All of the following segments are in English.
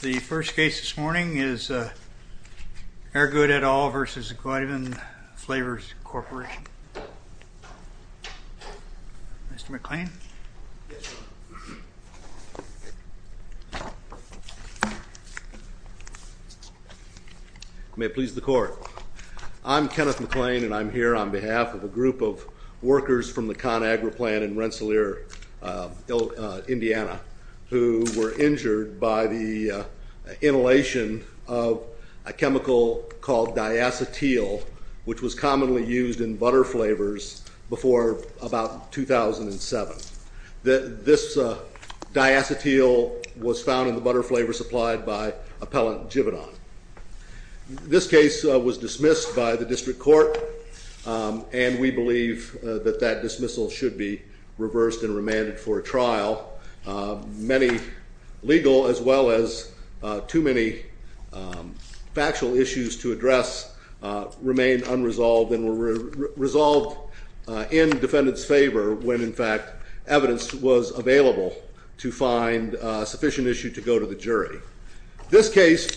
The first case this morning is Aregood, et al. v. Givaudan Flavors Corporation. Mr. McClain. May it please the court. I'm Kenneth McClain and I'm here on behalf of a group of workers from the ConAgra plant in Rensselaer, Indiana, who were injured by the inhalation of a chemical called diacetyl, which was commonly used in butter flavors before about 2007. This diacetyl was found in the butter flavor supplied by appellant Givaudan. This case was dismissed by the district court, and we believe that that dismissal should be reversed and remanded for trial. Many legal as well as too many factual issues to address remain unresolved and were resolved in defendant's favor when, in fact, evidence was available to find sufficient issue to go to the jury. This case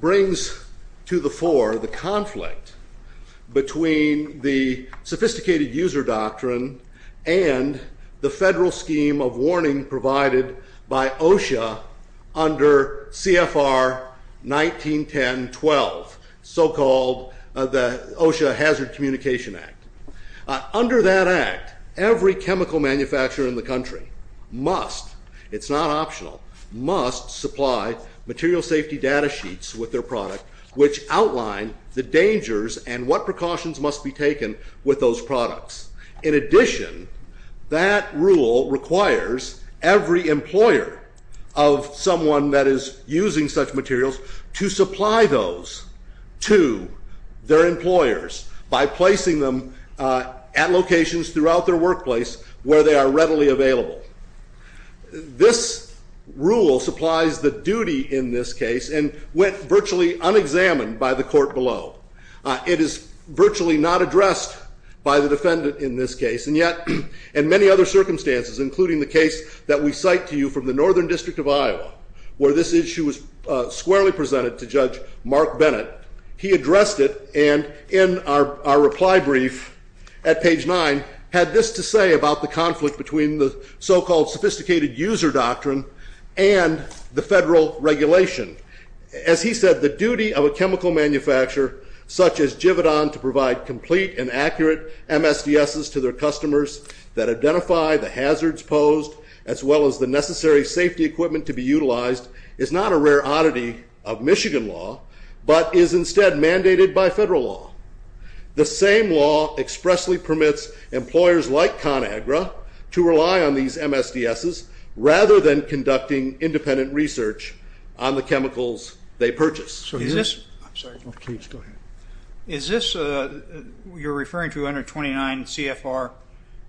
brings to the fore the conflict between the sophisticated user doctrine and the federal scheme of warning provided by OSHA under C.F.R. 1910-12, so called the OSHA Hazard Communication Act. Under that act, every chemical manufacturer in the country must, it's not optional, must supply material safety data sheets with their product which outline the dangers and what precautions must be taken with those products. In addition, that rule requires every employer of someone that is using such materials to supply those to their employers by placing them at locations throughout their workplace where they are readily available. This rule supplies the duty in this case and went virtually unexamined by the court below. It is virtually not addressed by the defendant in this case, and yet in many other circumstances, including the case that we cite to you from the Northern District of Iowa, where this issue was squarely presented to Judge Mark Bennett, he addressed it and in our reply brief at page 9 had this to say about the conflict between the so-called sophisticated user doctrine and the federal regulation. As he said, the duty of a chemical manufacturer such as Givodon to provide complete and accurate MSDSs to their customers that identify the hazards posed as well as the necessary safety equipment to be utilized is not a rare oddity of Michigan law, but is instead mandated by federal law. The same law expressly permits employers like ConAgra to rely on these MSDSs rather than conducting independent research on the chemicals they purchase. Is this, you're referring to 129 CFR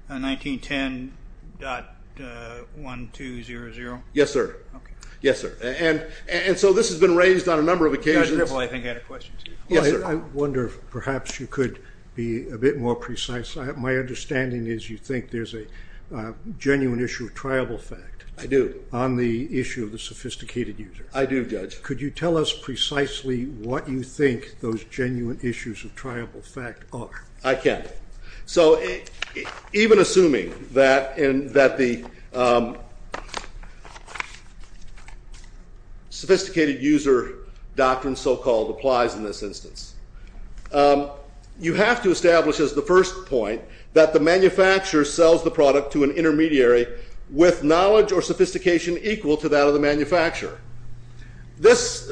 1910.1200? Yes, sir. Yes, so this has been raised on a number of occasions. I wonder if perhaps you could be a bit more precise. My understanding is you think there's a genuine issue of triable fact. I do. On the issue of the sophisticated user. I do, Judge. Could you tell us precisely what you think those user doctrine so-called applies in this instance? You have to establish as the first point that the manufacturer sells the product to an intermediary with knowledge or sophistication equal to that of the manufacturer. This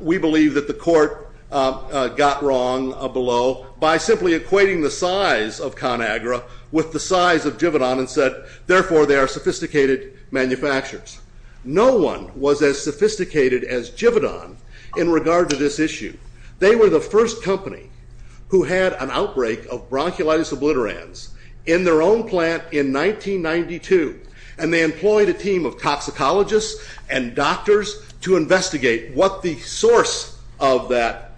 we believe that the court got wrong below by simply equating the size of ConAgra with the size of Givodon and said therefore they are sophisticated manufacturers. No one was as sophisticated as Givodon in regard to this issue. They were the first company who had an outbreak of bronchiolitis obliterans in their own plant in 1992 and they employed a team of toxicologists and doctors to investigate what the source of that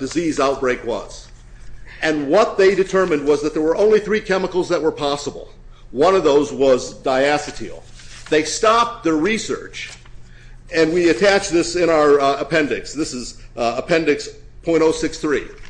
disease outbreak was and what they determined was that there were only three chemicals that were possible. One of those was diacetyl. They stopped the research and we attach this in our appendix. This is appendix .063.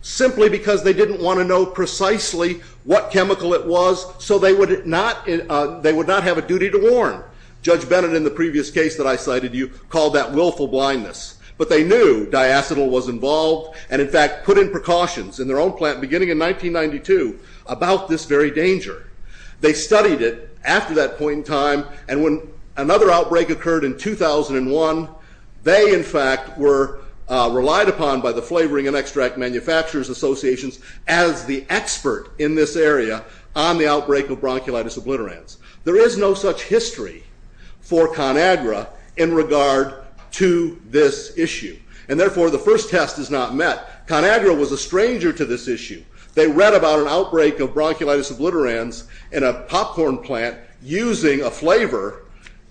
Simply because they didn't want to know precisely what chemical it was so they would not have a duty to warn. Judge Bennett in the previous case that I cited you called that willful blindness but they knew diacetyl was involved and in fact put in precautions in their own plant beginning in 1992 about this very danger. They studied it after that point in time and when another outbreak occurred in 2001 they in fact were relied upon by the Flavoring and Extract Manufacturers Associations as the expert in this area on the outbreak of bronchiolitis obliterans. There is no such history for ConAgra in regard to this issue and therefore the first test is not met. ConAgra was a stranger to this issue. They read about an outbreak of bronchiolitis obliterans in a popcorn plant using a flavor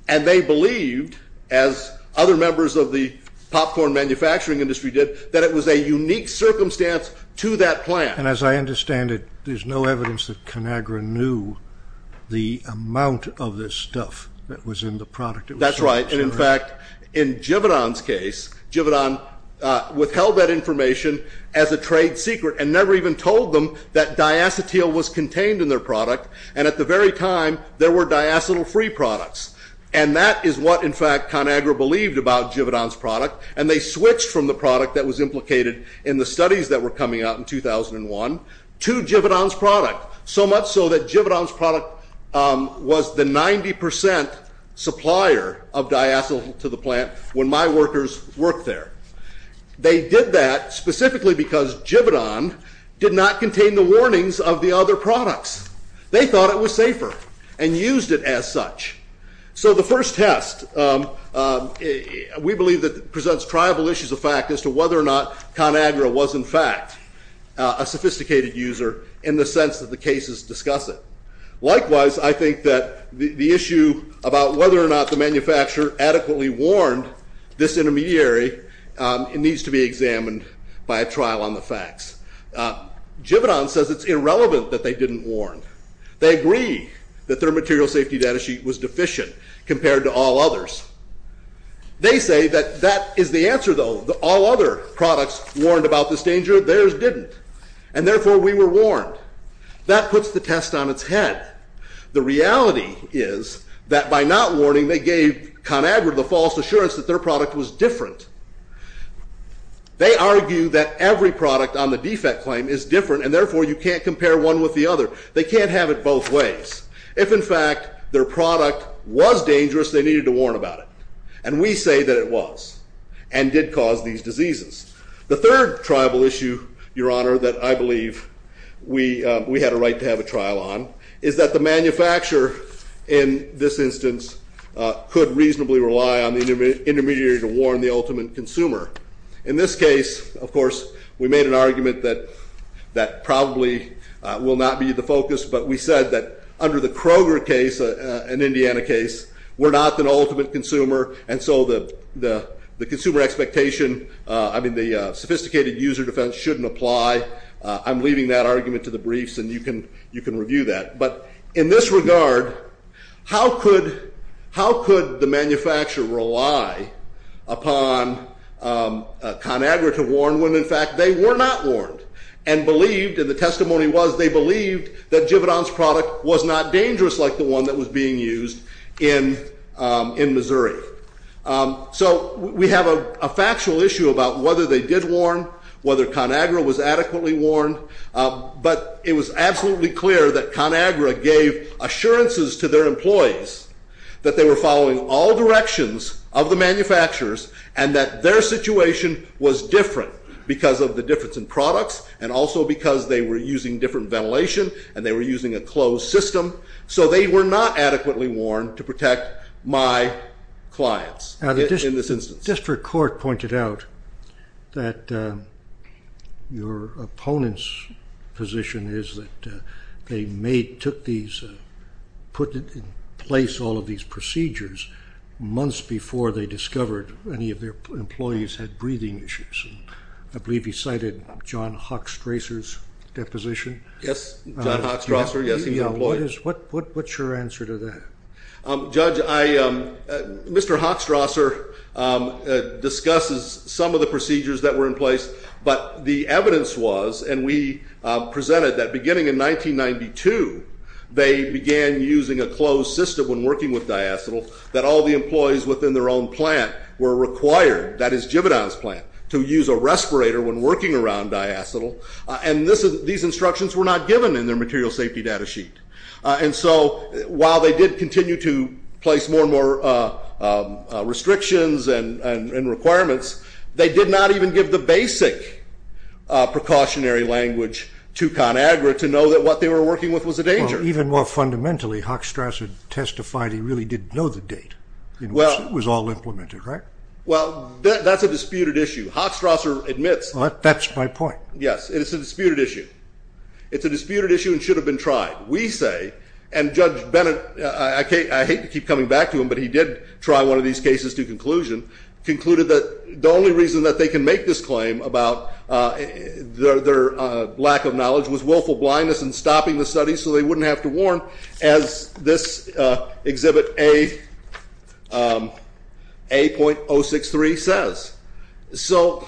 and they believed as other members of the popcorn manufacturing industry did that it was a unique circumstance to that plant. And as I understand it there's no evidence that ConAgra knew the amount of this stuff that was in the product. That's right and in fact in Jividan's as a trade secret and never even told them that diacetyl was contained in their product and at the very time there were diacetyl free products and that is what in fact ConAgra believed about Jividan's product and they switched from the product that was implicated in the studies that were coming out in 2001 to Jividan's product so much so that Jividan's product was the 90% supplier of diacetyl to the plant when my workers worked there. They did that specifically because Jividan did not contain the warnings of the other products. They thought it was safer and used it as such. So the first test we believe that presents tribal issues of fact as to whether or not ConAgra was in fact a sophisticated user in the sense that the cases discuss it. Likewise I think that the issue about whether or not the manufacturer adequately warned this intermediary it needs to be examined by a trial on the facts. Jividan says it's irrelevant that they didn't warn. They agree that their material safety data sheet was deficient compared to all others. They say that that is the answer though that all other products warned about this danger theirs didn't and therefore we were warned. That puts the test on its head. The reality is that by not warning they gave ConAgra the false assurance that their product was different. They argue that every product on the defect claim is different and therefore you can't compare one with the other. They can't have it both ways. If in fact their product was dangerous they needed to warn about it and we say that it was and did cause these diseases. The third tribal issue your honor that I believe we we had a right to have a trial on is that the manufacturer in this instance could reasonably rely on the intermediary to warn the ultimate consumer. In this case of course we made an argument that that probably will not be the focus but we said that under the Kroger case an Indiana case we're not an ultimate consumer and so the consumer expectation I mean the sophisticated user defense shouldn't apply. I'm leaving that argument to the briefs and you can you can review that but in this regard how could how could the manufacturer rely upon ConAgra to warn when in fact they were not warned and believed and the testimony was they believed that Jividan's product was not dangerous like the one that was being used in in Missouri. So we have a factual issue about whether they did warn whether ConAgra was adequately warned but it was absolutely clear that ConAgra gave assurances to their employees that they were following all directions of the manufacturers and that their situation was different because of the difference in products and also because they were using different ventilation and they were using a closed system so they were not adequately warned to protect my clients in this instance. The district court pointed out that your opponent's position is that they made took these put it in place all of these procedures months before they discovered any of their What's your answer to that? Judge I Mr. Hochstrasser discusses some of the procedures that were in place but the evidence was and we presented that beginning in 1992 they began using a closed system when working with diacetyl that all the employees within their own plant were required that is Jividan's plant to use a respirator when working around diacetyl and this is these instructions were not given in their material safety data sheet and so while they did continue to place more and more restrictions and requirements they did not even give the basic precautionary language to ConAgra to know that what they were working with was a danger. Even more fundamentally Hochstrasser testified he really didn't know the date well it was all implemented right? Well that's a disputed issue Hochstrasser admits. That's my point. Yes it's a disputed issue it's a disputed issue and should have been tried we say and Judge Bennett I hate to keep coming back to him but he did try one of these cases to conclusion concluded that the only reason that they can make this claim about their lack of knowledge was willful blindness and stopping the study so they wouldn't have to So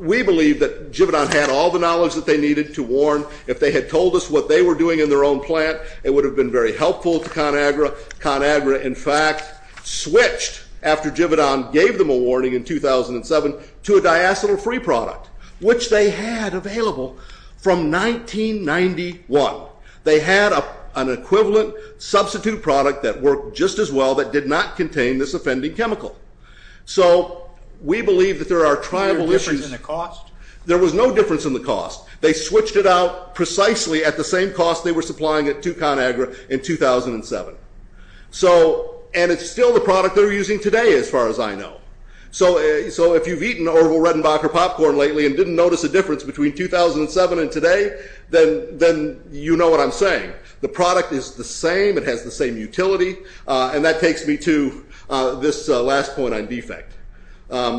we believe that Jividan had all the knowledge that they needed to warn if they had told us what they were doing in their own plant it would have been very helpful to ConAgra. ConAgra in fact switched after Jividan gave them a warning in 2007 to a diacetyl free product which they had available from 1991. They had an equivalent substitute product that worked just as well that did not contain this offending chemical. So we believe that there are tribal issues. There was no difference in the cost. They switched it out precisely at the same cost they were supplying it to ConAgra in 2007. So and it's still the product they're using today as far as I know. So so if you've eaten Orville Redenbacher popcorn lately and didn't notice a difference between 2007 and today then then you know what I'm saying. The product is the same it has the same utility and that takes me to this last point on defect.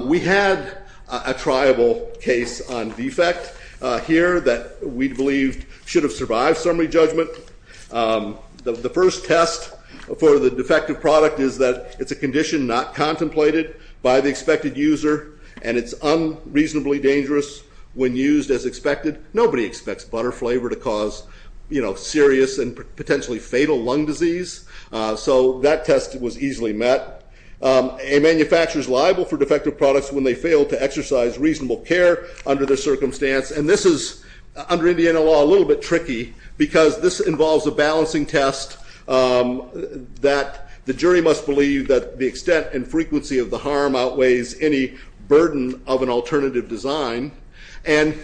We had a tribal case on defect here that we believed should have survived summary judgment. The first test for the defective product is that it's a condition not contemplated by the expected user and it's unreasonably dangerous when used as expected. Nobody expects butter flavor to cause you know serious and potentially fatal lung disease. So that test was easily met. A manufacturer is liable for defective products when they fail to exercise reasonable care under their circumstance and this is under Indiana law a little bit tricky because this involves a balancing test that the jury must believe that the extent and frequency of the harm outweighs any burden of an alternative design and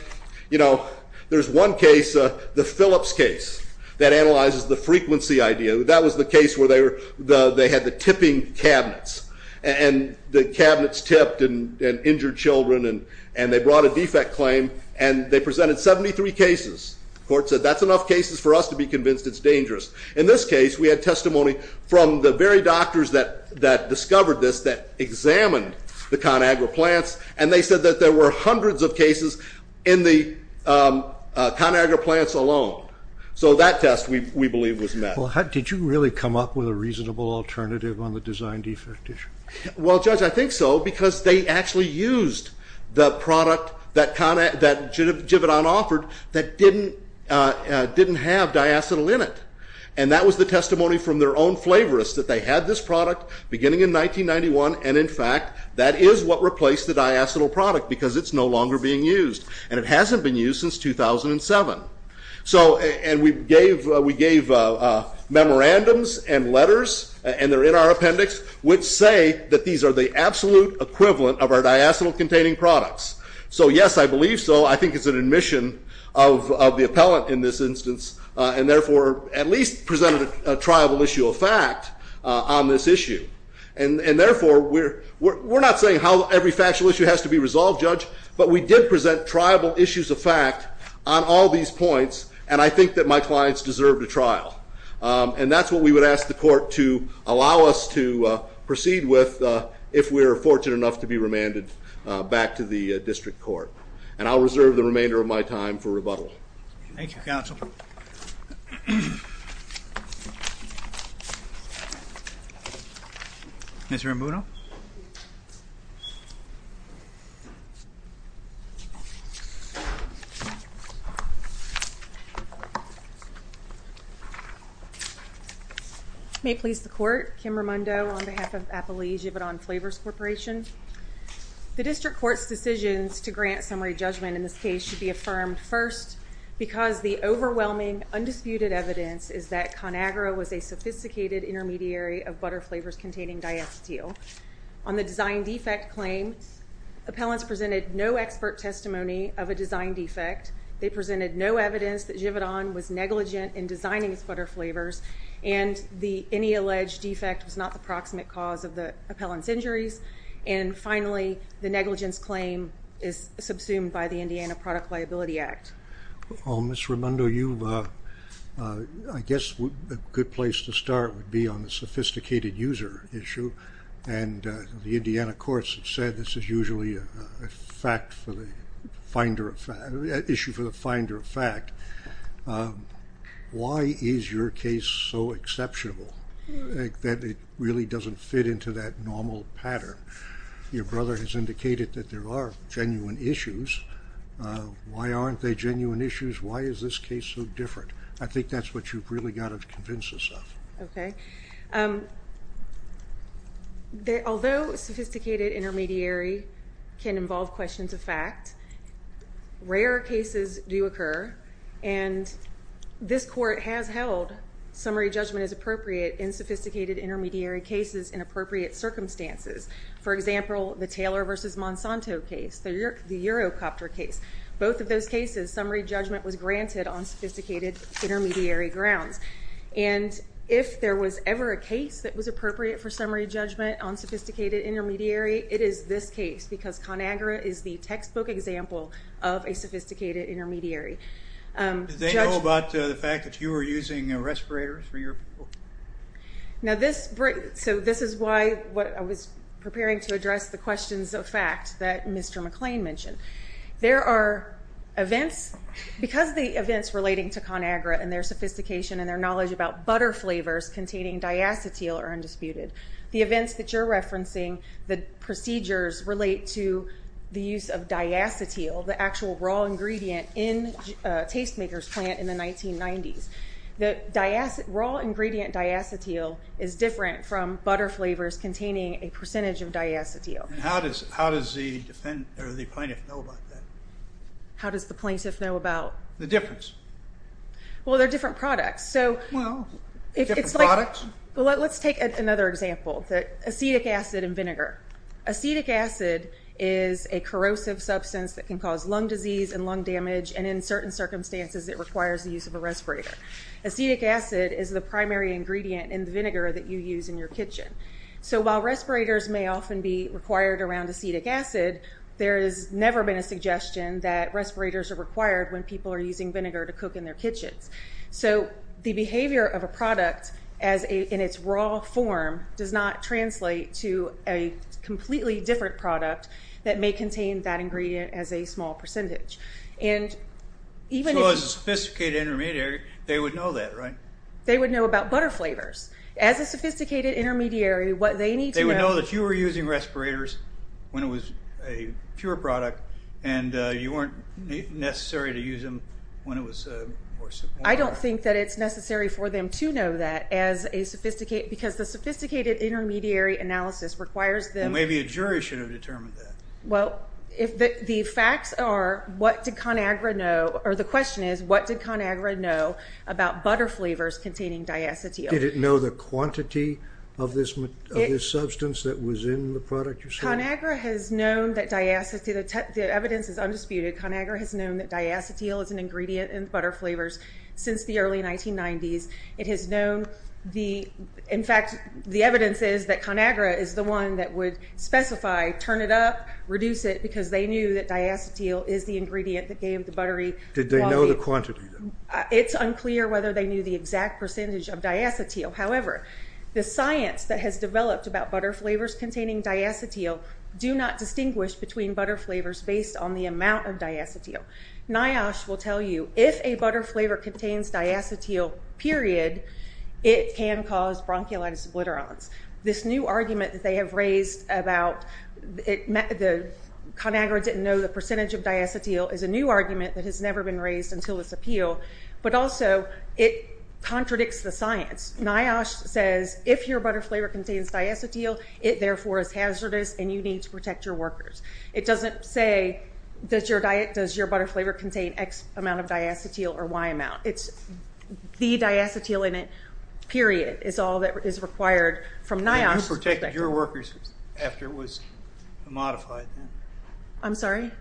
you know there's one case the Phillips case that analyzes the frequency idea that was the case where they were the they had the tipping cabinets and the cabinets tipped and injured children and and they brought a defect claim and they presented 73 cases. The court said that's enough cases for us to be convinced it's dangerous. In this case we had testimony from the very doctors that that discovered this that examined the ConAgra plants and they said that there were hundreds of cases in the ConAgra plants alone. So that test we believe was met. Well how did you really come up with a reasonable alternative on the design defect issue? Well judge I think so because they actually used the product that ConAgra that Jividan offered that didn't didn't have diacetyl in it and that was the testimony from their own flavorist that they had this product beginning in 1991 and in fact that is what replaced the diacetyl product because it's no longer being used and it hasn't been used since 2007. So and we gave we gave memorandums and letters and they're in our appendix which say that these are the absolute equivalent of our diacetyl containing products. So yes I believe so I think it's an admission of the appellant in this instance and therefore at least presented a triable issue of fact on this issue and and therefore we're we're tribal issues of fact on all these points and I think that my clients deserve to trial and that's what we would ask the court to allow us to proceed with if we are fortunate enough to be remanded back to the district court and I'll reserve the remainder of my time for rebuttal. Thank you May it please the court, Kim Raimondo on behalf of Appalachia Jividan Flavors Corporation. The district court's decisions to grant summary judgment in this case should be affirmed first because the overwhelming undisputed evidence is that ConAgra was a sophisticated intermediary of butter flavors containing diacetyl. On the design defect claim appellants presented no expert testimony of a design defect. They presented no evidence that Jividan was negligent in designing its butter flavors and the any alleged defect was not the proximate cause of the appellants injuries and finally the negligence claim is subsumed by the Indiana Product Liability Act. Ms. Raimondo you I guess a good place to start would be on the sophisticated user issue and the Indiana courts said this is usually a fact for the finder of fact issue for the finder of fact. Why is your case so exceptional that it really doesn't fit into that normal pattern? Your brother has indicated that there are genuine issues. Why aren't they genuine issues? Why is this case so different? I know that sophisticated intermediary can involve questions of fact. Rare cases do occur and this court has held summary judgment as appropriate in sophisticated intermediary cases in appropriate circumstances. For example the Taylor versus Monsanto case, the Eurocopter case. Both of those cases summary judgment was granted on sophisticated intermediary grounds and if there was ever a case that was appropriate for summary judgment on sophisticated intermediary it is this case because ConAgra is the textbook example of a sophisticated intermediary. Did they know about the fact that you were using respirators for your people? Now this is why I was preparing to address the questions of fact that Mr. McClain mentioned. There are events because the events relating to ConAgra and their knowledge about butter flavors containing diacetyl are undisputed. The events that you're referencing, the procedures relate to the use of diacetyl, the actual raw ingredient in a tastemaker's plant in the 1990s. The raw ingredient diacetyl is different from butter flavors containing a percentage of diacetyl. How does the plaintiff know about that? How does the plaintiff know about? The difference. Well they're different products. Well, different products? Let's take another example. Acetic acid and vinegar. Acetic acid is a corrosive substance that can cause lung disease and lung damage and in certain circumstances it requires the use of a respirator. Acetic acid is the primary ingredient in the vinegar that you use in your kitchen. So while respirators may often be required around acetic acid, there has never been a suggestion that respirators are required when people are using vinegar to cook in their kitchens. So the behavior of a product in its raw form does not translate to a completely different product that may contain that ingredient as a small percentage. So as a sophisticated intermediary, they would know that, right? They would know about butter flavors. As a sophisticated intermediary, what did ConAgra know about butter flavors containing diacetyl? Did it know the quantity of this substance that was in the product you're selling? ConAgra has known that diacetyl, the evidence is undisputed, ConAgra has known that diacetyl is an ingredient in butter flavors since the early 1990s. It has known the, in fact, the evidence is that ConAgra is the one that would specify, turn it up, reduce it, because they knew that diacetyl is the ingredient that gave the buttery... Did they know the quantity? It's unclear whether they knew the exact amount of diacetyl. NIOSH will tell you, if a butter flavor contains diacetyl, period, it can cause bronchiolitis obliterans. This new argument that they have raised about... ConAgra didn't know the percentage of diacetyl is a new argument that has never been raised until this appeal, but also it contradicts the science. NIOSH says, if your butter flavor contains diacetyl, it therefore is hazardous and you need to protect your workers. It doesn't say, does your diet, does your butter flavor contain X amount of diacetyl or Y amount? It's the diacetyl in it, period, is all that is required from NIOSH's perspective. And you protected your workers after it was modified? I'm sorry?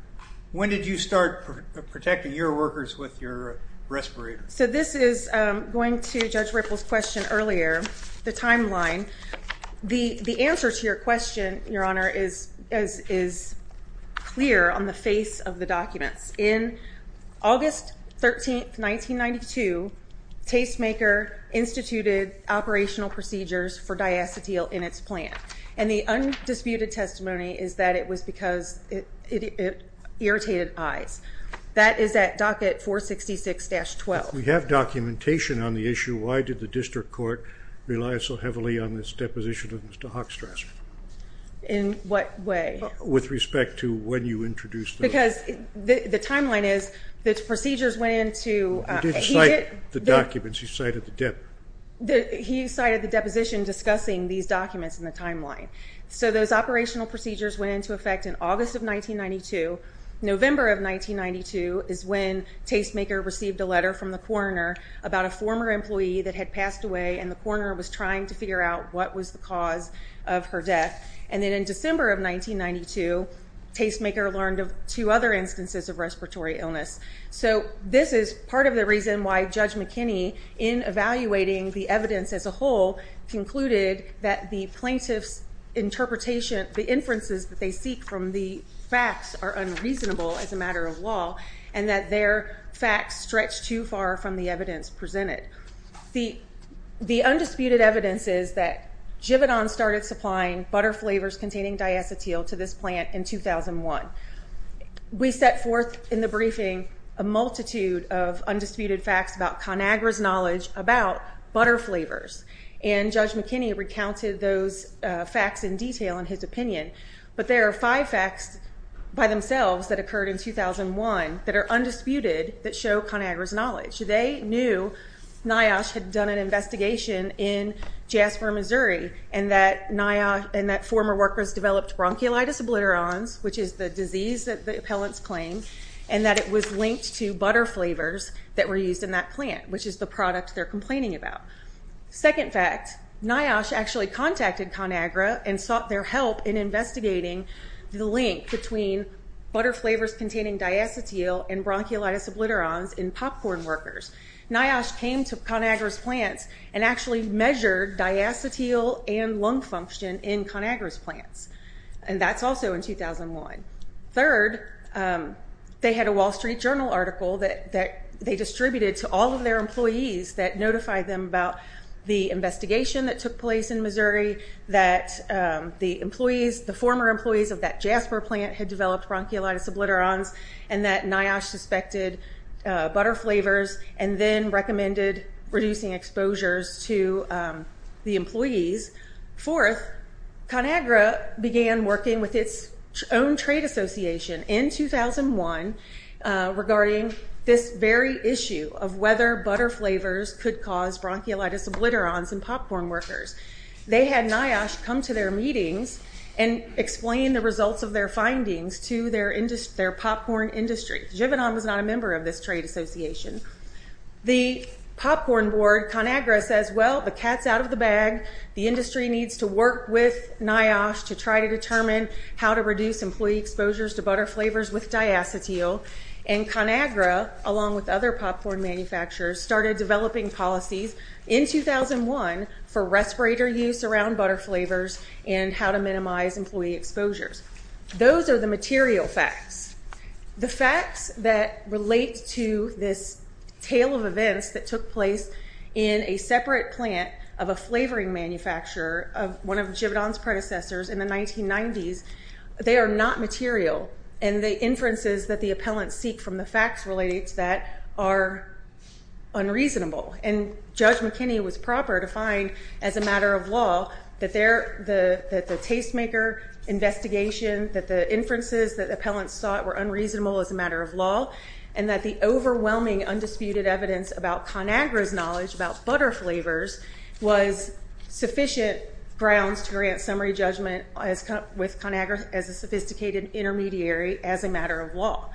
When did you start protecting your workers with your respirator? So this is going to Judge Ripple's question earlier, the timeline. The answer to your question, Your Honor, is clear on the face of the documents. In August 13, 1992, Tastemaker instituted operational procedures for diacetyl in its plant. And the undisputed testimony is that it was because it irritated eyes. That is at docket 466-12. If we have documentation on the issue, why did the district court rely so heavily on this deposition of Mr. Hochstrassman? In what way? With respect to when you introduced the... Because the timeline is, the procedures went into... You didn't cite the documents, you cited the dep... He cited the deposition discussing these documents in the timeline. So those operational procedures went into effect in August of 1992. November of 1992 is when Tastemaker received a letter from the coroner about a former employee that had passed away and the coroner was trying to figure out what was the cause of her death. And then in December of 1992, Tastemaker learned of two other instances of respiratory illness. So this is part of the reason why Judge McKinney, in evaluating the evidence as a whole, concluded that the plaintiff's interpretation... The inferences that they seek from the facts are unreasonable as a matter of law and that their facts stretch too far from the evidence presented. The undisputed evidence is that Givadon started supplying butter flavors containing diacetyl to this plant in 2001. We set forth in the briefing a multitude of undisputed facts about ConAgra's knowledge about butter flavors. And Judge McKinney recounted those facts in detail in his opinion. But there are five facts by themselves that occurred in 2001 that are undisputed that show ConAgra's knowledge. First fact, they knew NIOSH had done an investigation in Jasper, Missouri, and that former workers developed bronchiolitis obliterans, which is the disease that the appellants claim, and that it was linked to butter flavors that were used in that plant, which is the product they're complaining about. Second fact, NIOSH actually contacted ConAgra and sought their help in investigating the link between butter flavors containing diacetyl and bronchiolitis obliterans in popcorn workers. NIOSH came to ConAgra's plants and actually measured diacetyl and lung function in ConAgra's plants, and that's also in 2001. Third, they had a Wall Street Journal article that they distributed to all of their employees that notified them about the investigation that took place in Missouri, that the former employees of that Jasper plant had developed bronchiolitis obliterans, and that NIOSH suspected butter flavors, and then recommended reducing exposures to the employees. Fourth, ConAgra began working with its own trade association in 2001 regarding this very issue of whether butter flavors could cause bronchiolitis obliterans in popcorn workers. They had NIOSH come to their meetings and explain the results of their findings to their popcorn industry. Jevenon was not a member of this trade association. The popcorn board, ConAgra, says, well, the cat's out of the bag. The industry needs to work with NIOSH to try to determine how to reduce employee exposures to butter flavors with diacetyl. And ConAgra, along with other popcorn manufacturers, started developing policies in 2001 for respirator use around butter flavors and how to minimize employee exposures. Those are the material facts. The facts that relate to this tale of events that took place in a separate plant of a flavoring manufacturer, one of Jevenon's predecessors in the 1990s, they are not material. And the inferences that the appellants seek from the facts related to that are unreasonable. And Judge McKinney was proper to find, as a matter of law, that the tastemaker investigation, that the inferences that appellants sought were unreasonable as a matter of law, and that the overwhelming undisputed evidence about ConAgra's knowledge about butter flavors was sufficient grounds to grant summary judgment with ConAgra as a sophisticated intermediary as a matter of law.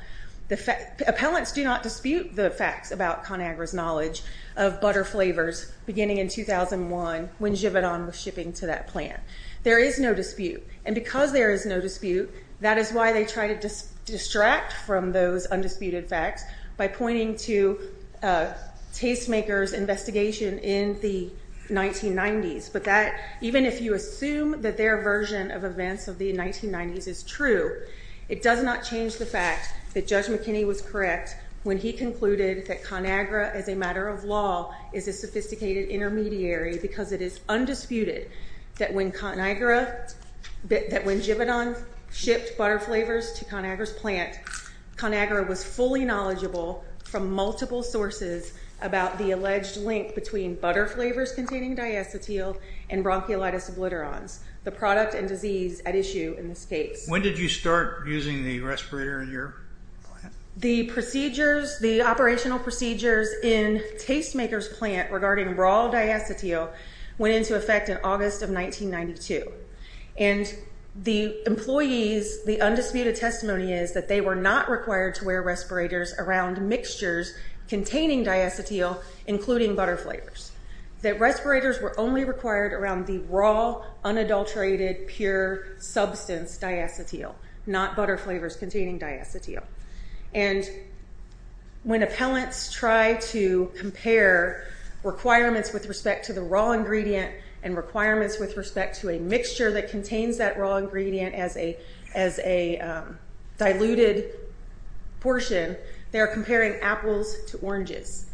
Appellants do not dispute the facts about ConAgra's knowledge of butter flavors beginning in 2001 when Jevenon was shipping to that plant. There is no dispute. And because there is no dispute, that is why they try to distract from those undisputed facts by pointing to tastemaker's investigation in the 1990s. But that, even if you assume that their version of events of the 1990s is true, it does not change the fact that Judge McKinney was correct when he concluded that ConAgra, as a matter of law, is a sophisticated intermediary because it is undisputed that when ConAgra, that when Jevenon shipped butter flavors to ConAgra's plant, ConAgra was fully knowledgeable from multiple sources about the alleged link between butter flavors containing diacetyl and bronchiolitis obliterans, the product and disease at issue in this case. When did you start using the respirator in your plant? The procedures, the operational procedures in tastemaker's plant regarding raw diacetyl went into effect in August of 1992. And the employees, the undisputed testimony is that they were not required to wear respirators around mixtures containing diacetyl, including butter flavors. That respirators were only required around the raw, unadulterated, pure substance diacetyl, not butter flavors containing diacetyl. And when appellants try to compare requirements with respect to the raw ingredient and requirements with respect to a mixture that contains that raw ingredient as a diluted portion, they are comparing apples to oranges.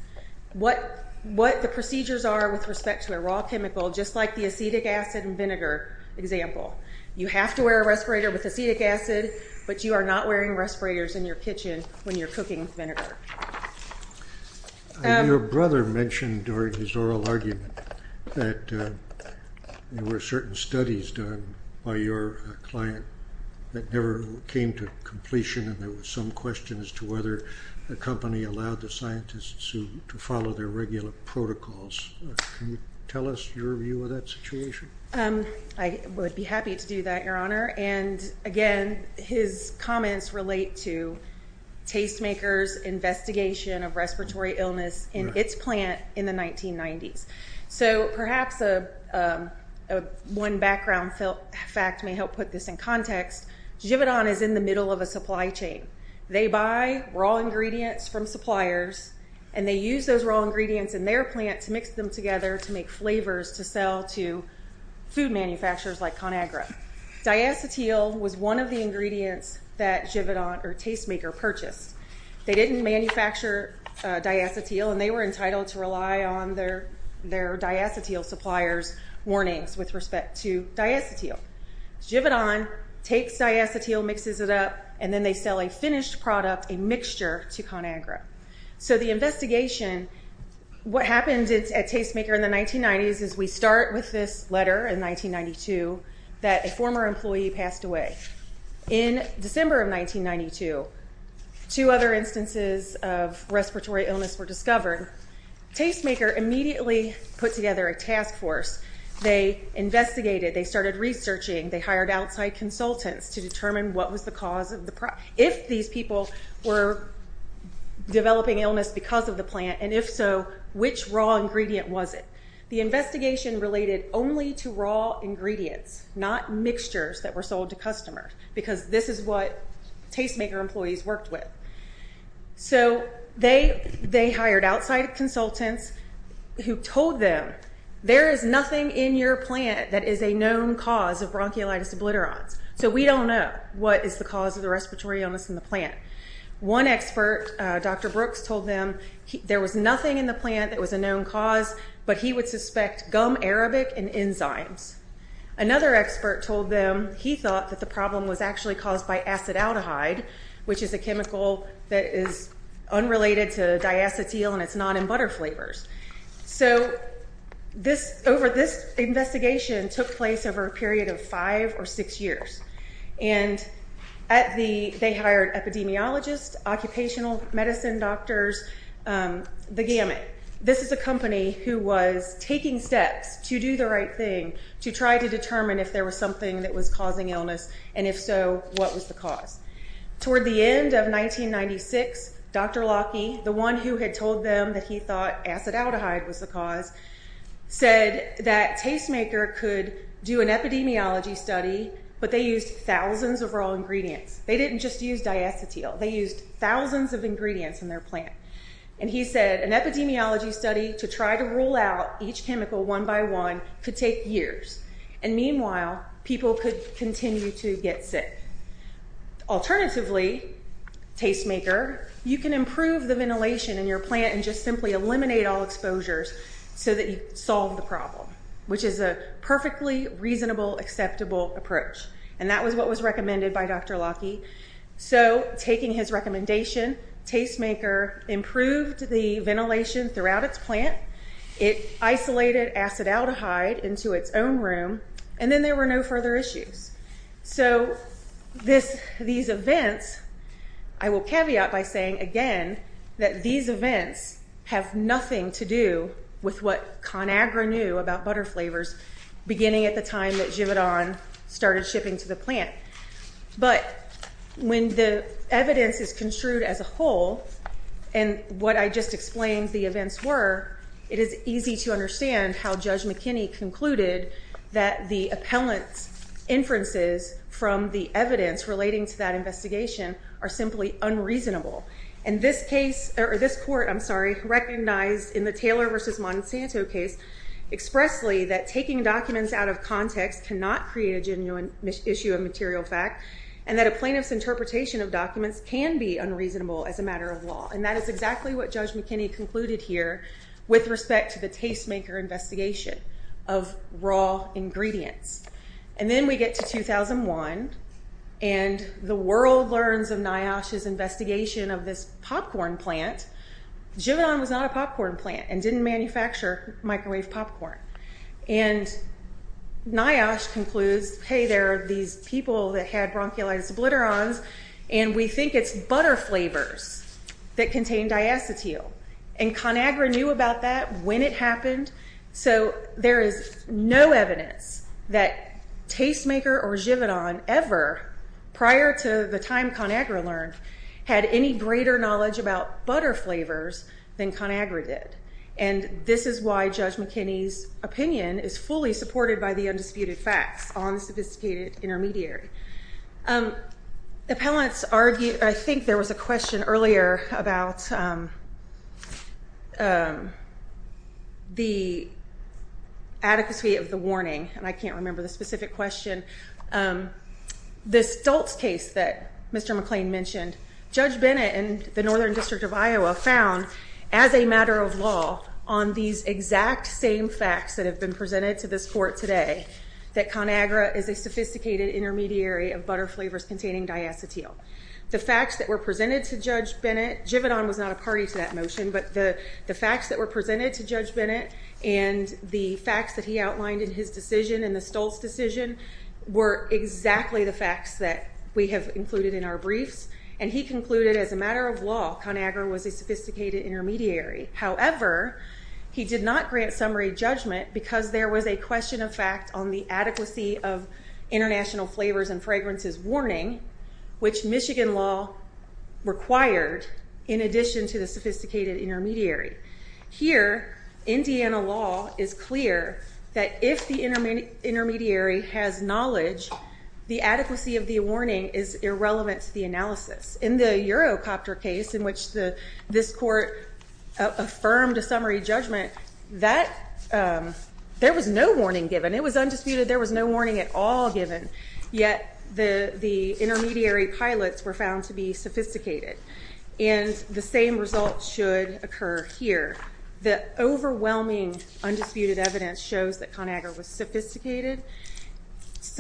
What the procedures are with respect to a raw chemical, just like the acetic acid and vinegar example, you have to wear a respirator with acetic acid, but you are not wearing respirators in your kitchen when you're cooking vinegar. Your brother mentioned during his oral argument that there were certain studies done by your client that never came to completion and there was some question as to whether the company allowed the scientists to follow their regular protocols. Can you tell us your view of that situation? I would be happy to do that, Your Honor. And again, his comments relate to Tastemaker's investigation of respiratory illness in its plant in the 1990s. So perhaps one background fact may help put this in context. Givadon is in the middle of a supply chain. They buy raw ingredients from suppliers and they use those raw ingredients in their plant to mix them together to make flavors to sell to food manufacturers like ConAgra. Diacetyl was one of the ingredients that Givadon or Tastemaker purchased. They didn't manufacture diacetyl and they were entitled to rely on their diacetyl supplier's warnings with respect to diacetyl. Givadon takes diacetyl, mixes it up, and then they sell a finished product, a mixture, to ConAgra. So the investigation, what happened at Tastemaker in the 1990s is we start with this letter in 1992 that a former employee passed away. In December of 1992, two other instances of respiratory illness were discovered. Tastemaker immediately put together a task force. They investigated, they started researching, they hired outside consultants to determine what was the cause of the problem. If these people were developing illness because of the plant, and if so, which raw ingredient was it? The investigation related only to raw ingredients, not mixtures that were sold to customers, because this is what Tastemaker employees worked with. So they hired outside consultants who told them, there is nothing in your plant that is a known cause of bronchiolitis obliterans. So we don't know what is the cause of the respiratory illness in the plant. One expert, Dr. Brooks, told them there was nothing in the plant that was a known cause, but he would suspect gum arabic and enzymes. Another expert told them he thought that the problem was actually caused by acetaldehyde, which is a chemical that is unrelated to diacetyl and it's not in butter flavors. So this, over this investigation, took place over a period of five or six years. And at the, they hired epidemiologists, occupational medicine doctors, the gamut. This is a company who was taking steps to do the right thing, to try to determine if there was something that was causing illness, and if so, what was the cause? Toward the end of 1996, Dr. Locky, the one who had told them that he thought acetaldehyde was the cause, said that Tastemaker could do an epidemiology study, but they used thousands of raw ingredients. They didn't just use diacetyl, they used thousands of ingredients in their plant. And he said an epidemiology study to try to rule out each chemical one by one could take years. And meanwhile, people could continue to get sick. Alternatively, Tastemaker, you can improve the ventilation in your plant and just simply eliminate all exposures so that you solve the problem, which is a perfectly reasonable, acceptable approach. And that was what was recommended by Dr. Locky. So, taking his recommendation, Tastemaker improved the ventilation throughout its plant, it isolated acetaldehyde into its own room, and then there were no further issues. So, these events, I will caveat by saying, again, that these events have nothing to do with what ConAgra knew about butter flavors, beginning at the time that Givadon started shipping to the plant. But when the evidence is construed as a whole, and what I just explained the events were, it is easy to understand how Judge McKinney concluded that the appellant's inferences from the evidence relating to that investigation are simply unreasonable. And this case, or this court, I'm sorry, recognized in the Taylor v. Monsanto case expressly that taking documents out of context cannot create a genuine issue of material fact, and that a plaintiff's interpretation of documents can be unreasonable as a matter of law. And that is exactly what Judge McKinney concluded here with respect to the Tastemaker investigation of raw ingredients. And then we get to 2001, and the world learns of NIOSH's investigation of this popcorn plant. Givadon was not a popcorn plant, and didn't manufacture microwave popcorn. And NIOSH concludes, hey, there are these people that had bronchiolitis obliterans, and we think it's butter flavors that contain diacetyl. And ConAgra knew about that when it happened. So there is no evidence that Tastemaker or Givadon ever, prior to the time ConAgra learned, had any greater knowledge about butter flavors than ConAgra did. And this is why Judge McKinney's opinion is fully supported by the undisputed facts on the sophisticated intermediary. Appellants argue, I think there was a question earlier about the adequacy of the warning, and I can't remember the specific question. This Stoltz case that Mr. McClain mentioned, Judge Bennett and the Northern District of Iowa found, as a matter of law, on these exact same facts that have been presented to this court today, that ConAgra is a sophisticated intermediary of butter flavors containing diacetyl. The facts that were presented to Judge Bennett, Givadon was not a party to that motion, but the facts that were presented to Judge Bennett and the facts that he outlined in his decision, in the Stoltz decision, were exactly the facts that we have included in our briefs. And he concluded, as a matter of law, ConAgra was a sophisticated intermediary. However, he did not grant summary judgment because there was a question of fact on the adequacy of international flavors and fragrances warning, which Michigan law required, in addition to the sophisticated intermediary. Here, Indiana law is clear that if the intermediary has knowledge, the adequacy of the warning is irrelevant to the analysis. In the Eurocopter case, in which this court affirmed a summary judgment, there was no warning given. It was undisputed, there was no warning at all given. Yet, the intermediary pilots were found to be sophisticated. And the same result should occur here. The overwhelming undisputed evidence shows that ConAgra was sophisticated.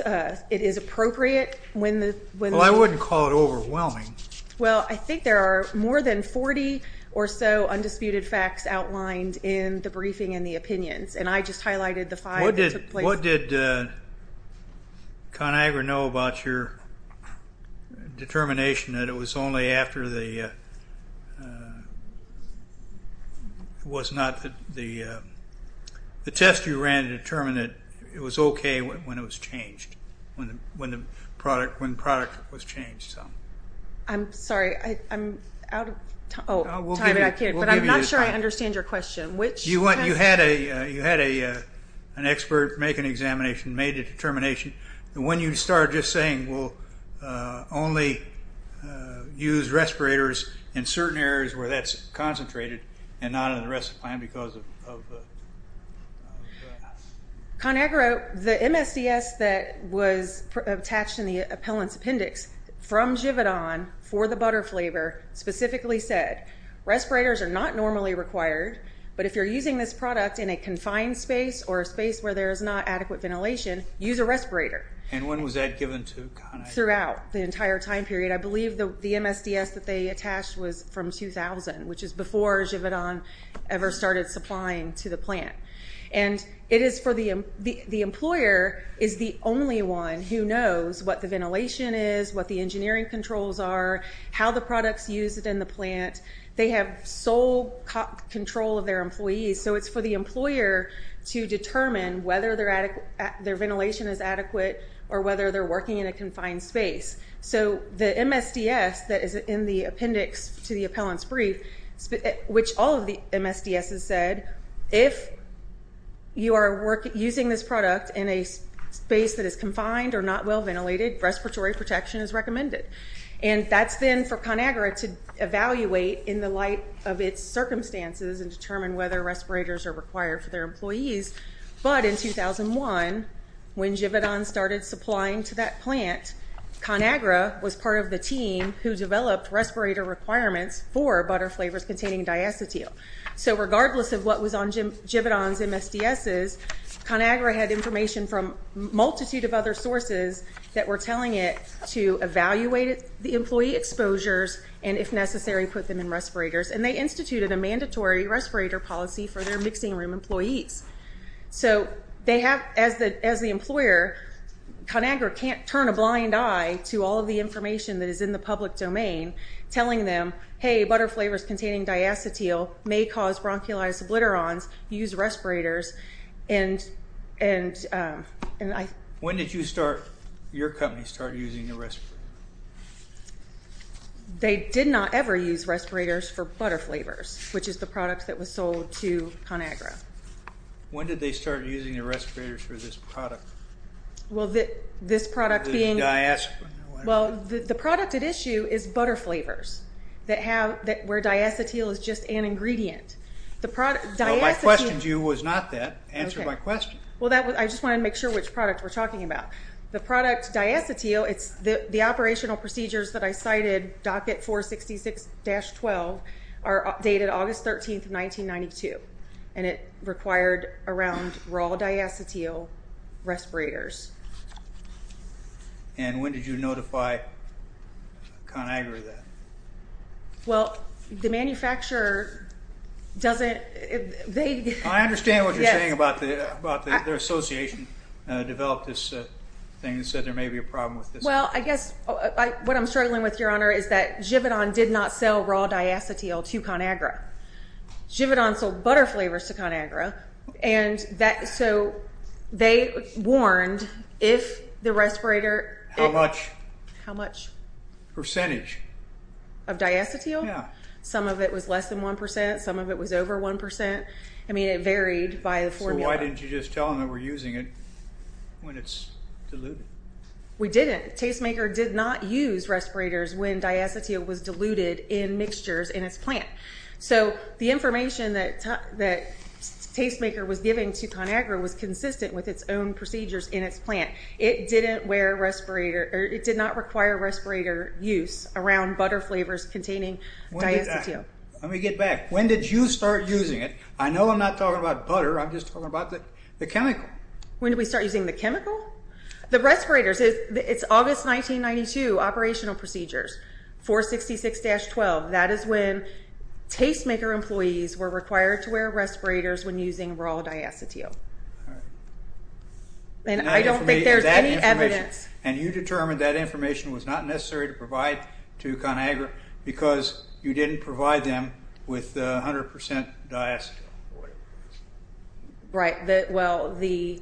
It is appropriate when the... Well, I wouldn't call it overwhelming. Well, I think there are more than 40 or so undisputed facts outlined in the briefing and the opinions. And I just highlighted the five that took place. What did ConAgra know about your determination that it was only after the test you ran to determine that it was okay when it was changed, when the product was changed? I'm sorry. I'm out of time. But I'm not sure I understand your question. You had an expert make an examination, made a determination. When you started just saying, well, only use respirators in certain areas where that's concentrated and not in the rest of the plant because of... ConAgra, the MSCS that was attached in the appellant's appendix from Givadon for the butter flavor, specifically said, respirators are not normally required, but if you're using this product in a confined space or a space where there is not adequate ventilation, use a respirator. And when was that given to ConAgra? Throughout the entire time period. I believe the MSDS that they attached was from 2000, which is before Givadon ever started supplying to the plant. And it is for the... The employer is the only one who knows what the ventilation is, what the engineering controls are, how the products used in the plant. They have sole control of their employees. So it's for the employer to determine whether their ventilation is adequate or whether they're working in a confined space. So the MSDS that is in the appendix to the appellant's brief, which all of the MSDSs said, if you are using this product in a space that is confined or not well-ventilated, respiratory protection is recommended. And that's then for ConAgra to evaluate in the light of its circumstances and determine whether respirators are required for their employees. But in 2001, when Givadon started supplying to that plant, ConAgra was part of the team who developed respirator requirements for butter flavors containing diacetyl. So regardless of what was on Givadon's MSDSs, ConAgra had information from a multitude of other sources that were telling it to evaluate the employee exposures and, if necessary, put them in respirators. And they instituted a mandatory respirator policy for their mixing room employees. So as the employer, ConAgra can't turn a blind eye to all of the information that is in the public domain telling them, hey, butter flavors containing diacetyl may cause bronchiolitis obliterans. Use respirators. When did your company start using the respirators? They did not ever use respirators for butter flavors, which is the product that was sold to ConAgra. When did they start using the respirators for this product? Well, the product at issue is butter flavors, where diacetyl is just an ingredient. Well, my question to you was not that. Answer my question. Well, I just wanted to make sure which product we're talking about. The product diacetyl, the operational procedures that I cited, docket 466-12, are dated August 13, 1992. And it required around raw diacetyl respirators. And when did you notify ConAgra of that? Well, the manufacturer doesn't – they – I understand what you're saying about their association developed this thing that said there may be a problem with this. Well, I guess what I'm struggling with, Your Honor, is that Givodon did not sell raw diacetyl to ConAgra. Givodon sold butter flavors to ConAgra, and that – so they warned if the respirator – How much? How much? Percentage. Of diacetyl? Yeah. Some of it was less than 1 percent, some of it was over 1 percent. I mean, it varied by the formula. So why didn't you just tell them that we're using it when it's diluted? We didn't. Tastemaker did not use respirators when diacetyl was diluted in mixtures in its plant. So the information that Tastemaker was giving to ConAgra was consistent with its own procedures in its plant. It didn't wear respirator – it did not require respirator use around butter flavors containing diacetyl. Let me get back. When did you start using it? I know I'm not talking about butter. I'm just talking about the chemical. When did we start using the chemical? The respirators – it's August 1992, operational procedures, 466-12. That is when Tastemaker employees were required to wear respirators when using raw diacetyl. All right. And I don't think there's any evidence. And you determined that information was not necessary to provide to ConAgra because you didn't provide them with the 100 percent diacetyl or whatever it was. Right. Well, the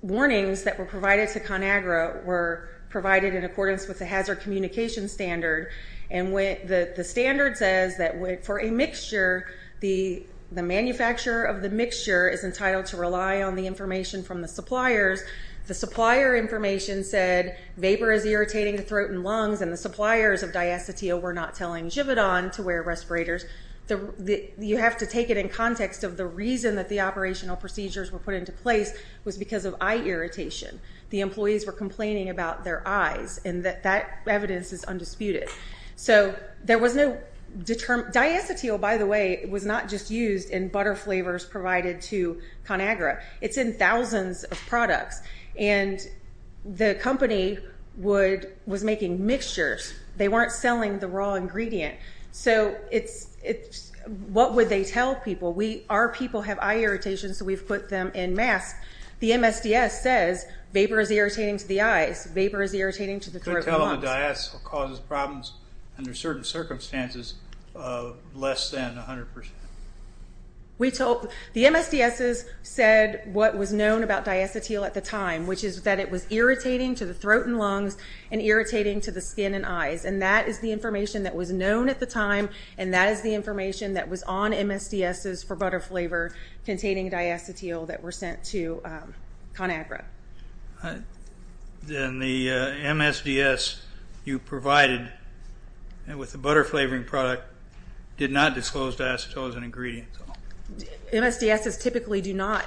warnings that were provided to ConAgra were provided in accordance with the hazard communication standard, and the standard says that for a mixture, the manufacturer of the mixture is entitled to rely on the information from the suppliers. The supplier information said vapor is irritating the throat and lungs, and the suppliers of diacetyl were not telling Givodon to wear respirators. You have to take it in context of the reason that the operational procedures were put into place was because of eye irritation. The employees were complaining about their eyes, and that evidence is undisputed. So there was no determined—diacetyl, by the way, was not just used in butter flavors provided to ConAgra. It's in thousands of products, and the company was making mixtures. They weren't selling the raw ingredient. So what would they tell people? Our people have eye irritation, so we've put them in masks. The MSDS says vapor is irritating to the eyes, vapor is irritating to the throat and lungs. All the diacetyl causes problems under certain circumstances of less than 100%. The MSDSs said what was known about diacetyl at the time, which is that it was irritating to the throat and lungs and irritating to the skin and eyes, and that is the information that was known at the time, and that is the information that was on MSDSs for butter flavor containing diacetyl that were sent to ConAgra. Then the MSDS you provided with the butter-flavoring product did not disclose diacetyl as an ingredient. MSDSs typically do not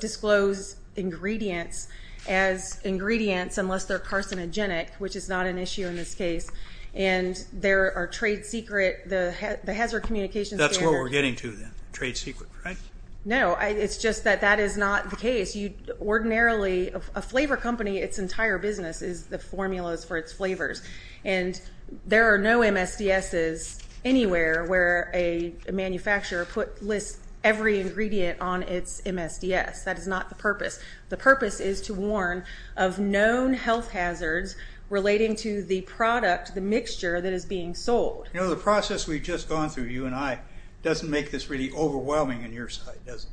disclose ingredients as ingredients unless they're carcinogenic, which is not an issue in this case, and there are trade secret—the hazard communications— That's what we're getting to then, trade secret, right? No, it's just that that is not the case. You ordinarily—a flavor company, its entire business is the formulas for its flavors, and there are no MSDSs anywhere where a manufacturer lists every ingredient on its MSDS. That is not the purpose. The purpose is to warn of known health hazards relating to the product, the mixture, that is being sold. You know, the process we've just gone through, you and I, doesn't make this really overwhelming on your side, does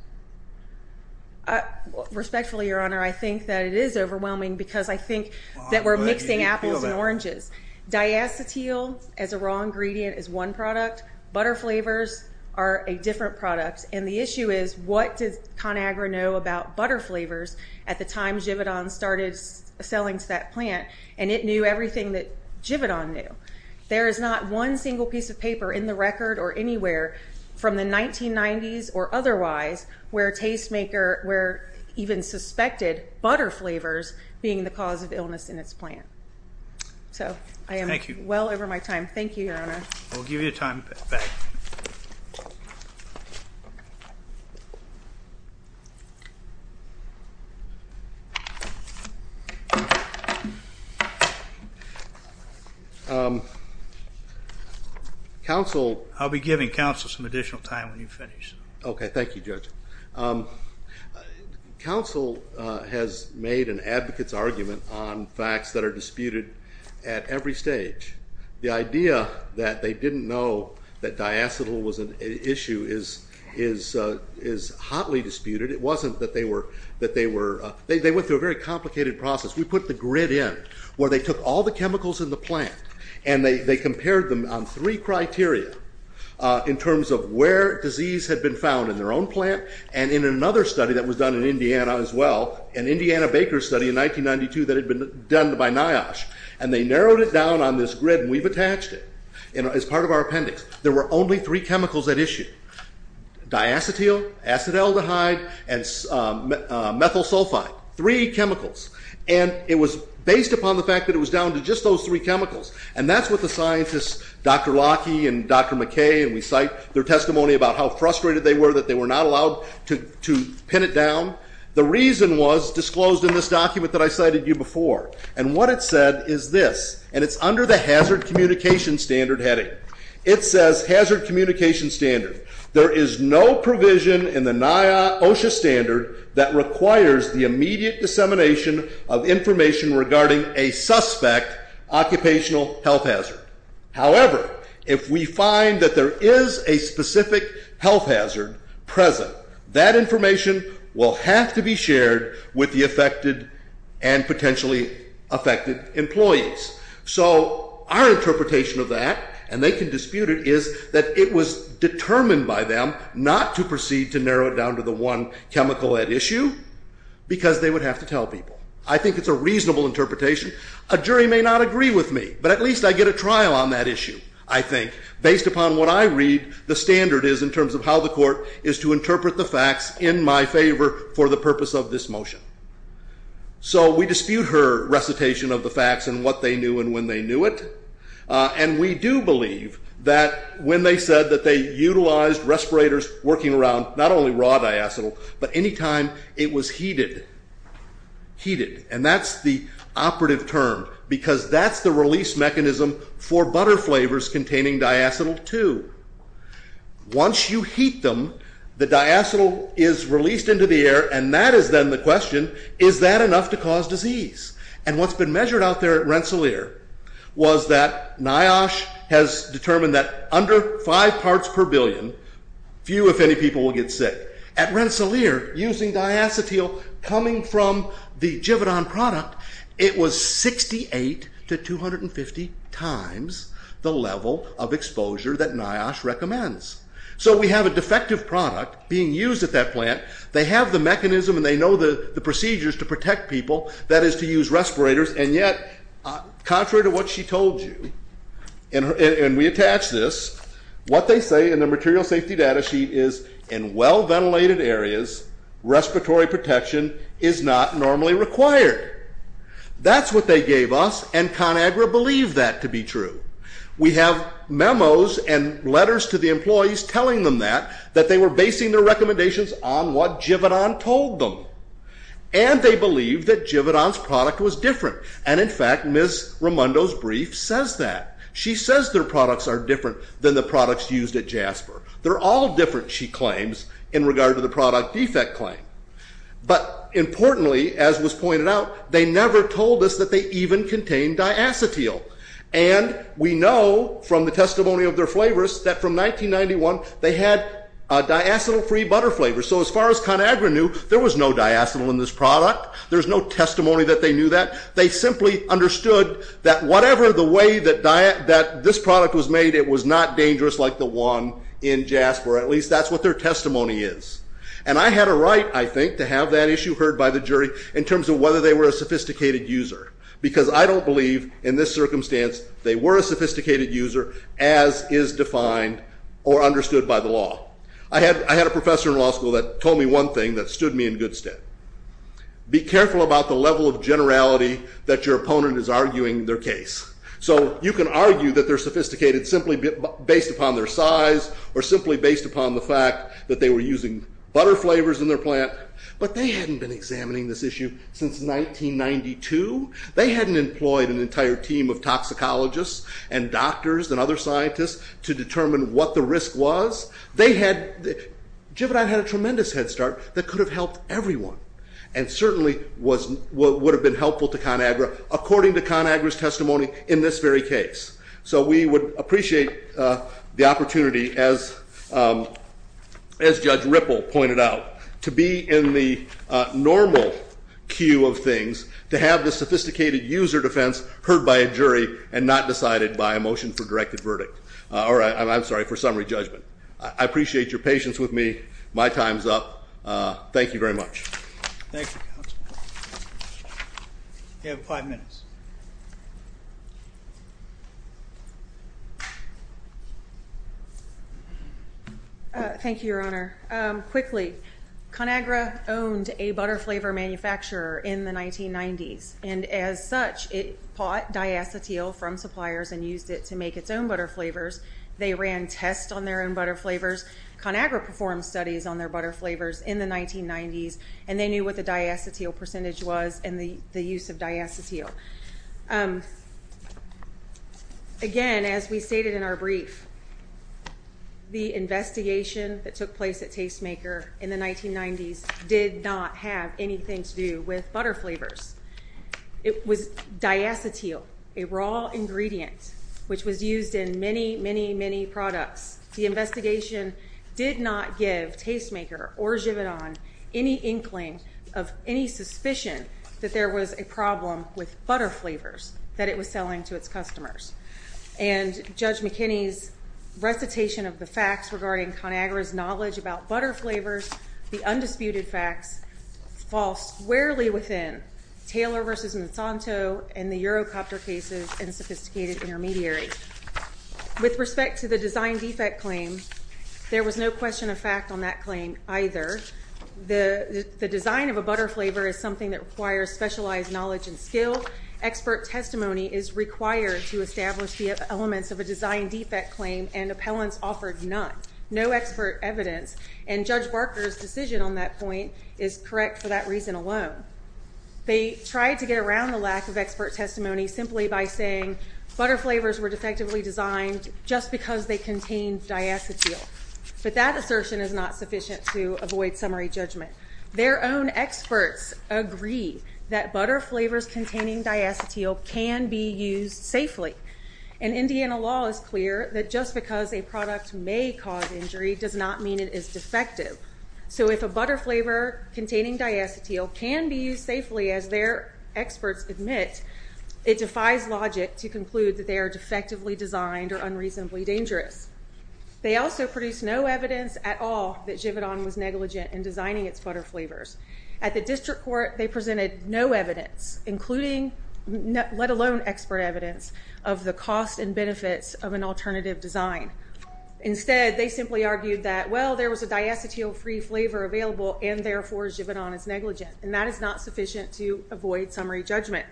it? Respectfully, Your Honor, I think that it is overwhelming because I think that we're mixing apples and oranges. Diacetyl as a raw ingredient is one product. Butter flavors are a different product, and the issue is what does ConAgra know about butter flavors at the time Givadon started selling to that plant, and it knew everything that Givadon knew. There is not one single piece of paper in the record or anywhere from the 1990s or otherwise where a tastemaker even suspected butter flavors being the cause of illness in its plant. So I am well over my time. Thank you, Your Honor. We'll give you time. I'll be giving counsel some additional time when you finish. Okay, thank you, Judge. Counsel has made an advocate's argument on facts that are disputed at every stage. The idea that they didn't know that diacetyl was an issue is hotly disputed. It wasn't that they were—they went through a very complicated process. We put the grid in where they took all the chemicals in the plant, and they compared them on three criteria in terms of where disease had been found in their own plant and in another study that was done in Indiana as well, an Indiana Baker study in 1992 that had been done by NIOSH, and they narrowed it down on this grid, and we've attached it as part of our appendix. There were only three chemicals at issue, diacetyl, acetaldehyde, and methyl sulfide, three chemicals, and it was based upon the fact that it was down to just those three chemicals, and that's what the scientists, Dr. Locke and Dr. McKay, and we cite their testimony about how frustrated they were that they were not allowed to pin it down. The reason was disclosed in this document that I cited you before, and what it said is this, and it's under the hazard communication standard heading. It says, hazard communication standard, there is no provision in the NIOSH standard that requires the immediate dissemination of information regarding a suspect occupational health hazard. However, if we find that there is a specific health hazard present, that information will have to be shared with the affected and potentially affected employees. So our interpretation of that, and they can dispute it, is that it was determined by them not to proceed to narrow it down to the one chemical at issue because they would have to tell people. I think it's a reasonable interpretation. A jury may not agree with me, but at least I get a trial on that issue, I think. Based upon what I read, the standard is in terms of how the court is to interpret the facts in my favor for the purpose of this motion. So we dispute her recitation of the facts and what they knew and when they knew it, and we do believe that when they said that they utilized respirators working around not only raw diacetyl, but any time it was heated. Heated, and that's the operative term because that's the release mechanism for butter flavors containing diacetyl 2. Once you heat them, the diacetyl is released into the air and that is then the question, is that enough to cause disease? And what's been measured out there at Rensselaer was that NIOSH has determined that under 5 parts per billion, few if any people will get sick. At Rensselaer, using diacetyl coming from the Givedon product, it was 68 to 250 times the level of exposure that NIOSH recommends. So we have a defective product being used at that plant. They have the mechanism and they know the procedures to protect people, that is to use respirators, and yet contrary to what she told you, and we attach this, what they say in the material safety data sheet is in well-ventilated areas, respiratory protection is not normally required. That's what they gave us and ConAgra believed that to be true. We have memos and letters to the employees telling them that, that they were basing their recommendations on what Givedon told them. And they believe that Givedon's product was different. And in fact, Ms. Raimondo's brief says that. She says their products are different than the products used at Jasper. They're all different, she claims, in regard to the product defect claim. But importantly, as was pointed out, they never told us that they even contained diacetyl. And we know from the testimony of their flavorists that from 1991 they had a diacetyl-free butter flavor. So as far as ConAgra knew, there was no diacetyl in this product. There's no testimony that they knew that. They simply understood that whatever the way that this product was made, it was not dangerous like the one in Jasper. At least that's what their testimony is. And I had a right, I think, to have that issue heard by the jury in terms of whether they were a sophisticated user. Because I don't believe in this circumstance they were a sophisticated user as is defined or understood by the law. I had a professor in law school that told me one thing that stood me in good stead. Be careful about the level of generality that your opponent is arguing their case. So you can argue that they're sophisticated simply based upon their size or simply based upon the fact that they were using butter flavors in their plant. But they hadn't been examining this issue since 1992. They hadn't employed an entire team of toxicologists and doctors and other scientists to determine what the risk was. They had, Jividine had a tremendous head start that could have helped everyone and certainly would have been helpful to ConAgra according to ConAgra's testimony in this very case. So we would appreciate the opportunity, as Judge Ripple pointed out, to be in the normal queue of things, to have the sophisticated user defense heard by a jury and not decided by a motion for directed verdict. Or, I'm sorry, for summary judgment. I appreciate your patience with me. My time's up. Thank you very much. Thank you, Counsel. You have five minutes. Thank you, Your Honor. Quickly, ConAgra owned a butter flavor manufacturer in the 1990s, and as such it bought diacetyl from suppliers and used it to make its own butter flavors. They ran tests on their own butter flavors. ConAgra performed studies on their butter flavors in the 1990s, and they knew what the diacetyl percentage was and the use of diacetyl. Again, as we stated in our brief, the investigation that took place at Tastemaker in the 1990s did not have anything to do with butter flavors. It was diacetyl, a raw ingredient, which was used in many, many, many products. The investigation did not give Tastemaker or Givenon any inkling of any suspicion that there was a problem with butter flavors that it was selling to its customers. And Judge McKinney's recitation of the facts regarding ConAgra's knowledge about butter flavors, the undisputed facts, fall squarely within Taylor v. Monsanto and the Eurocopter cases and sophisticated intermediaries. With respect to the design defect claim, there was no question of fact on that claim either. The design of a butter flavor is something that requires specialized knowledge and skill. Expert testimony is required to establish the elements of a design defect claim, and appellants offered none, no expert evidence. And Judge Barker's decision on that point is correct for that reason alone. They tried to get around the lack of expert testimony simply by saying butter flavors were defectively designed just because they contained diacetyl. But that assertion is not sufficient to avoid summary judgment. Their own experts agree that butter flavors containing diacetyl can be used safely. And Indiana law is clear that just because a product may cause injury does not mean it is defective. So if a butter flavor containing diacetyl can be used safely, as their experts admit, it defies logic to conclude that they are defectively designed or unreasonably dangerous. They also produced no evidence at all that Givadon was negligent in designing its butter flavors. At the district court, they presented no evidence, including let alone expert evidence, of the cost and benefits of an alternative design. Instead, they simply argued that, well, there was a diacetyl-free flavor available, and therefore Givadon is negligent. And that is not sufficient to avoid summary judgment.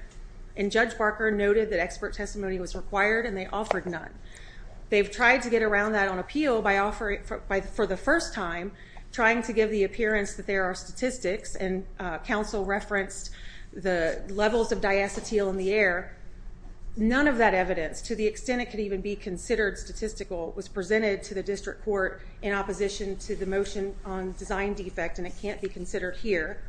And Judge Barker noted that expert testimony was required, and they offered none. They've tried to get around that on appeal for the first time, trying to give the appearance that there are statistics, and counsel referenced the levels of diacetyl in the air. None of that evidence, to the extent it could even be considered statistical, was presented to the district court in opposition to the motion on design defect, and it can't be considered here.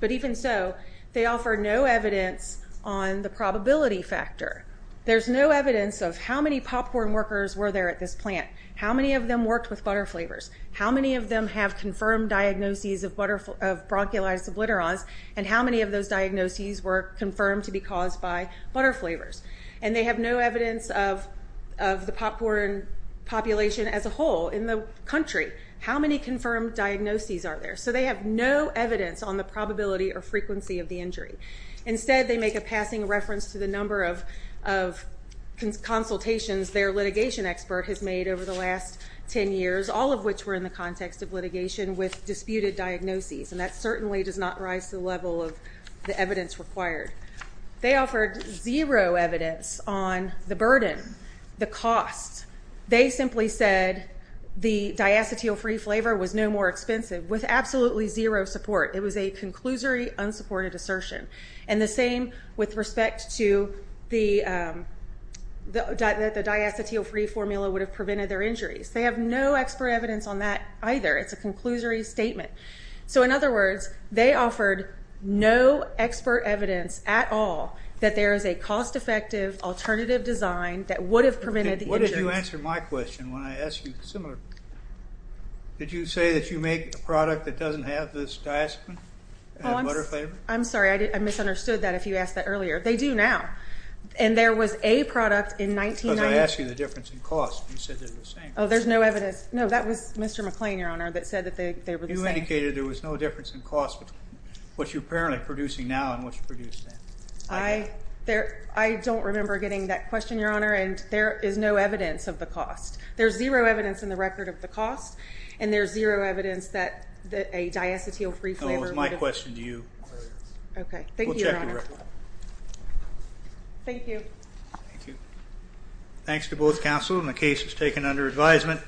But even so, they offer no evidence on the probability factor. There's no evidence of how many popcorn workers were there at this plant, how many of them worked with butter flavors, how many of them have confirmed diagnoses of bronchiolitis obliterans, and how many of those diagnoses were confirmed to be caused by butter flavors. And they have no evidence of the popcorn population as a whole in the country. How many confirmed diagnoses are there? So they have no evidence on the probability or frequency of the injury. Instead, they make a passing reference to the number of consultations their litigation expert has made over the last 10 years, all of which were in the context of litigation with disputed diagnoses, and that certainly does not rise to the level of the evidence required. They offered zero evidence on the burden, the cost. They simply said the diacetyl-free flavor was no more expensive, with absolutely zero support. It was a conclusory unsupported assertion. And the same with respect to the diacetyl-free formula would have prevented their injuries. They have no expert evidence on that either. It's a conclusory statement. So, in other words, they offered no expert evidence at all that there is a cost-effective alternative design that would have prevented the injury. What did you answer my question when I asked you similar? Did you say that you make a product that doesn't have this diacetyl-free butter flavor? I'm sorry. I misunderstood that if you asked that earlier. They do now. And there was a product in 1990. Because I asked you the difference in cost, and you said they were the same. Oh, there's no evidence. No, that was Mr. McClain, Your Honor, that said that they were the same. You indicated there was no difference in cost between what you're apparently producing now and what you produced then. I don't remember getting that question, Your Honor, and there is no evidence of the cost. There's zero evidence in the record of the cost, and there's zero evidence that a diacetyl-free flavor would have… No, it was my question to you. Okay. Thank you, Your Honor. We'll check the record. Thank you. Thank you. Thanks to both counsel, and the case is taken under advisement.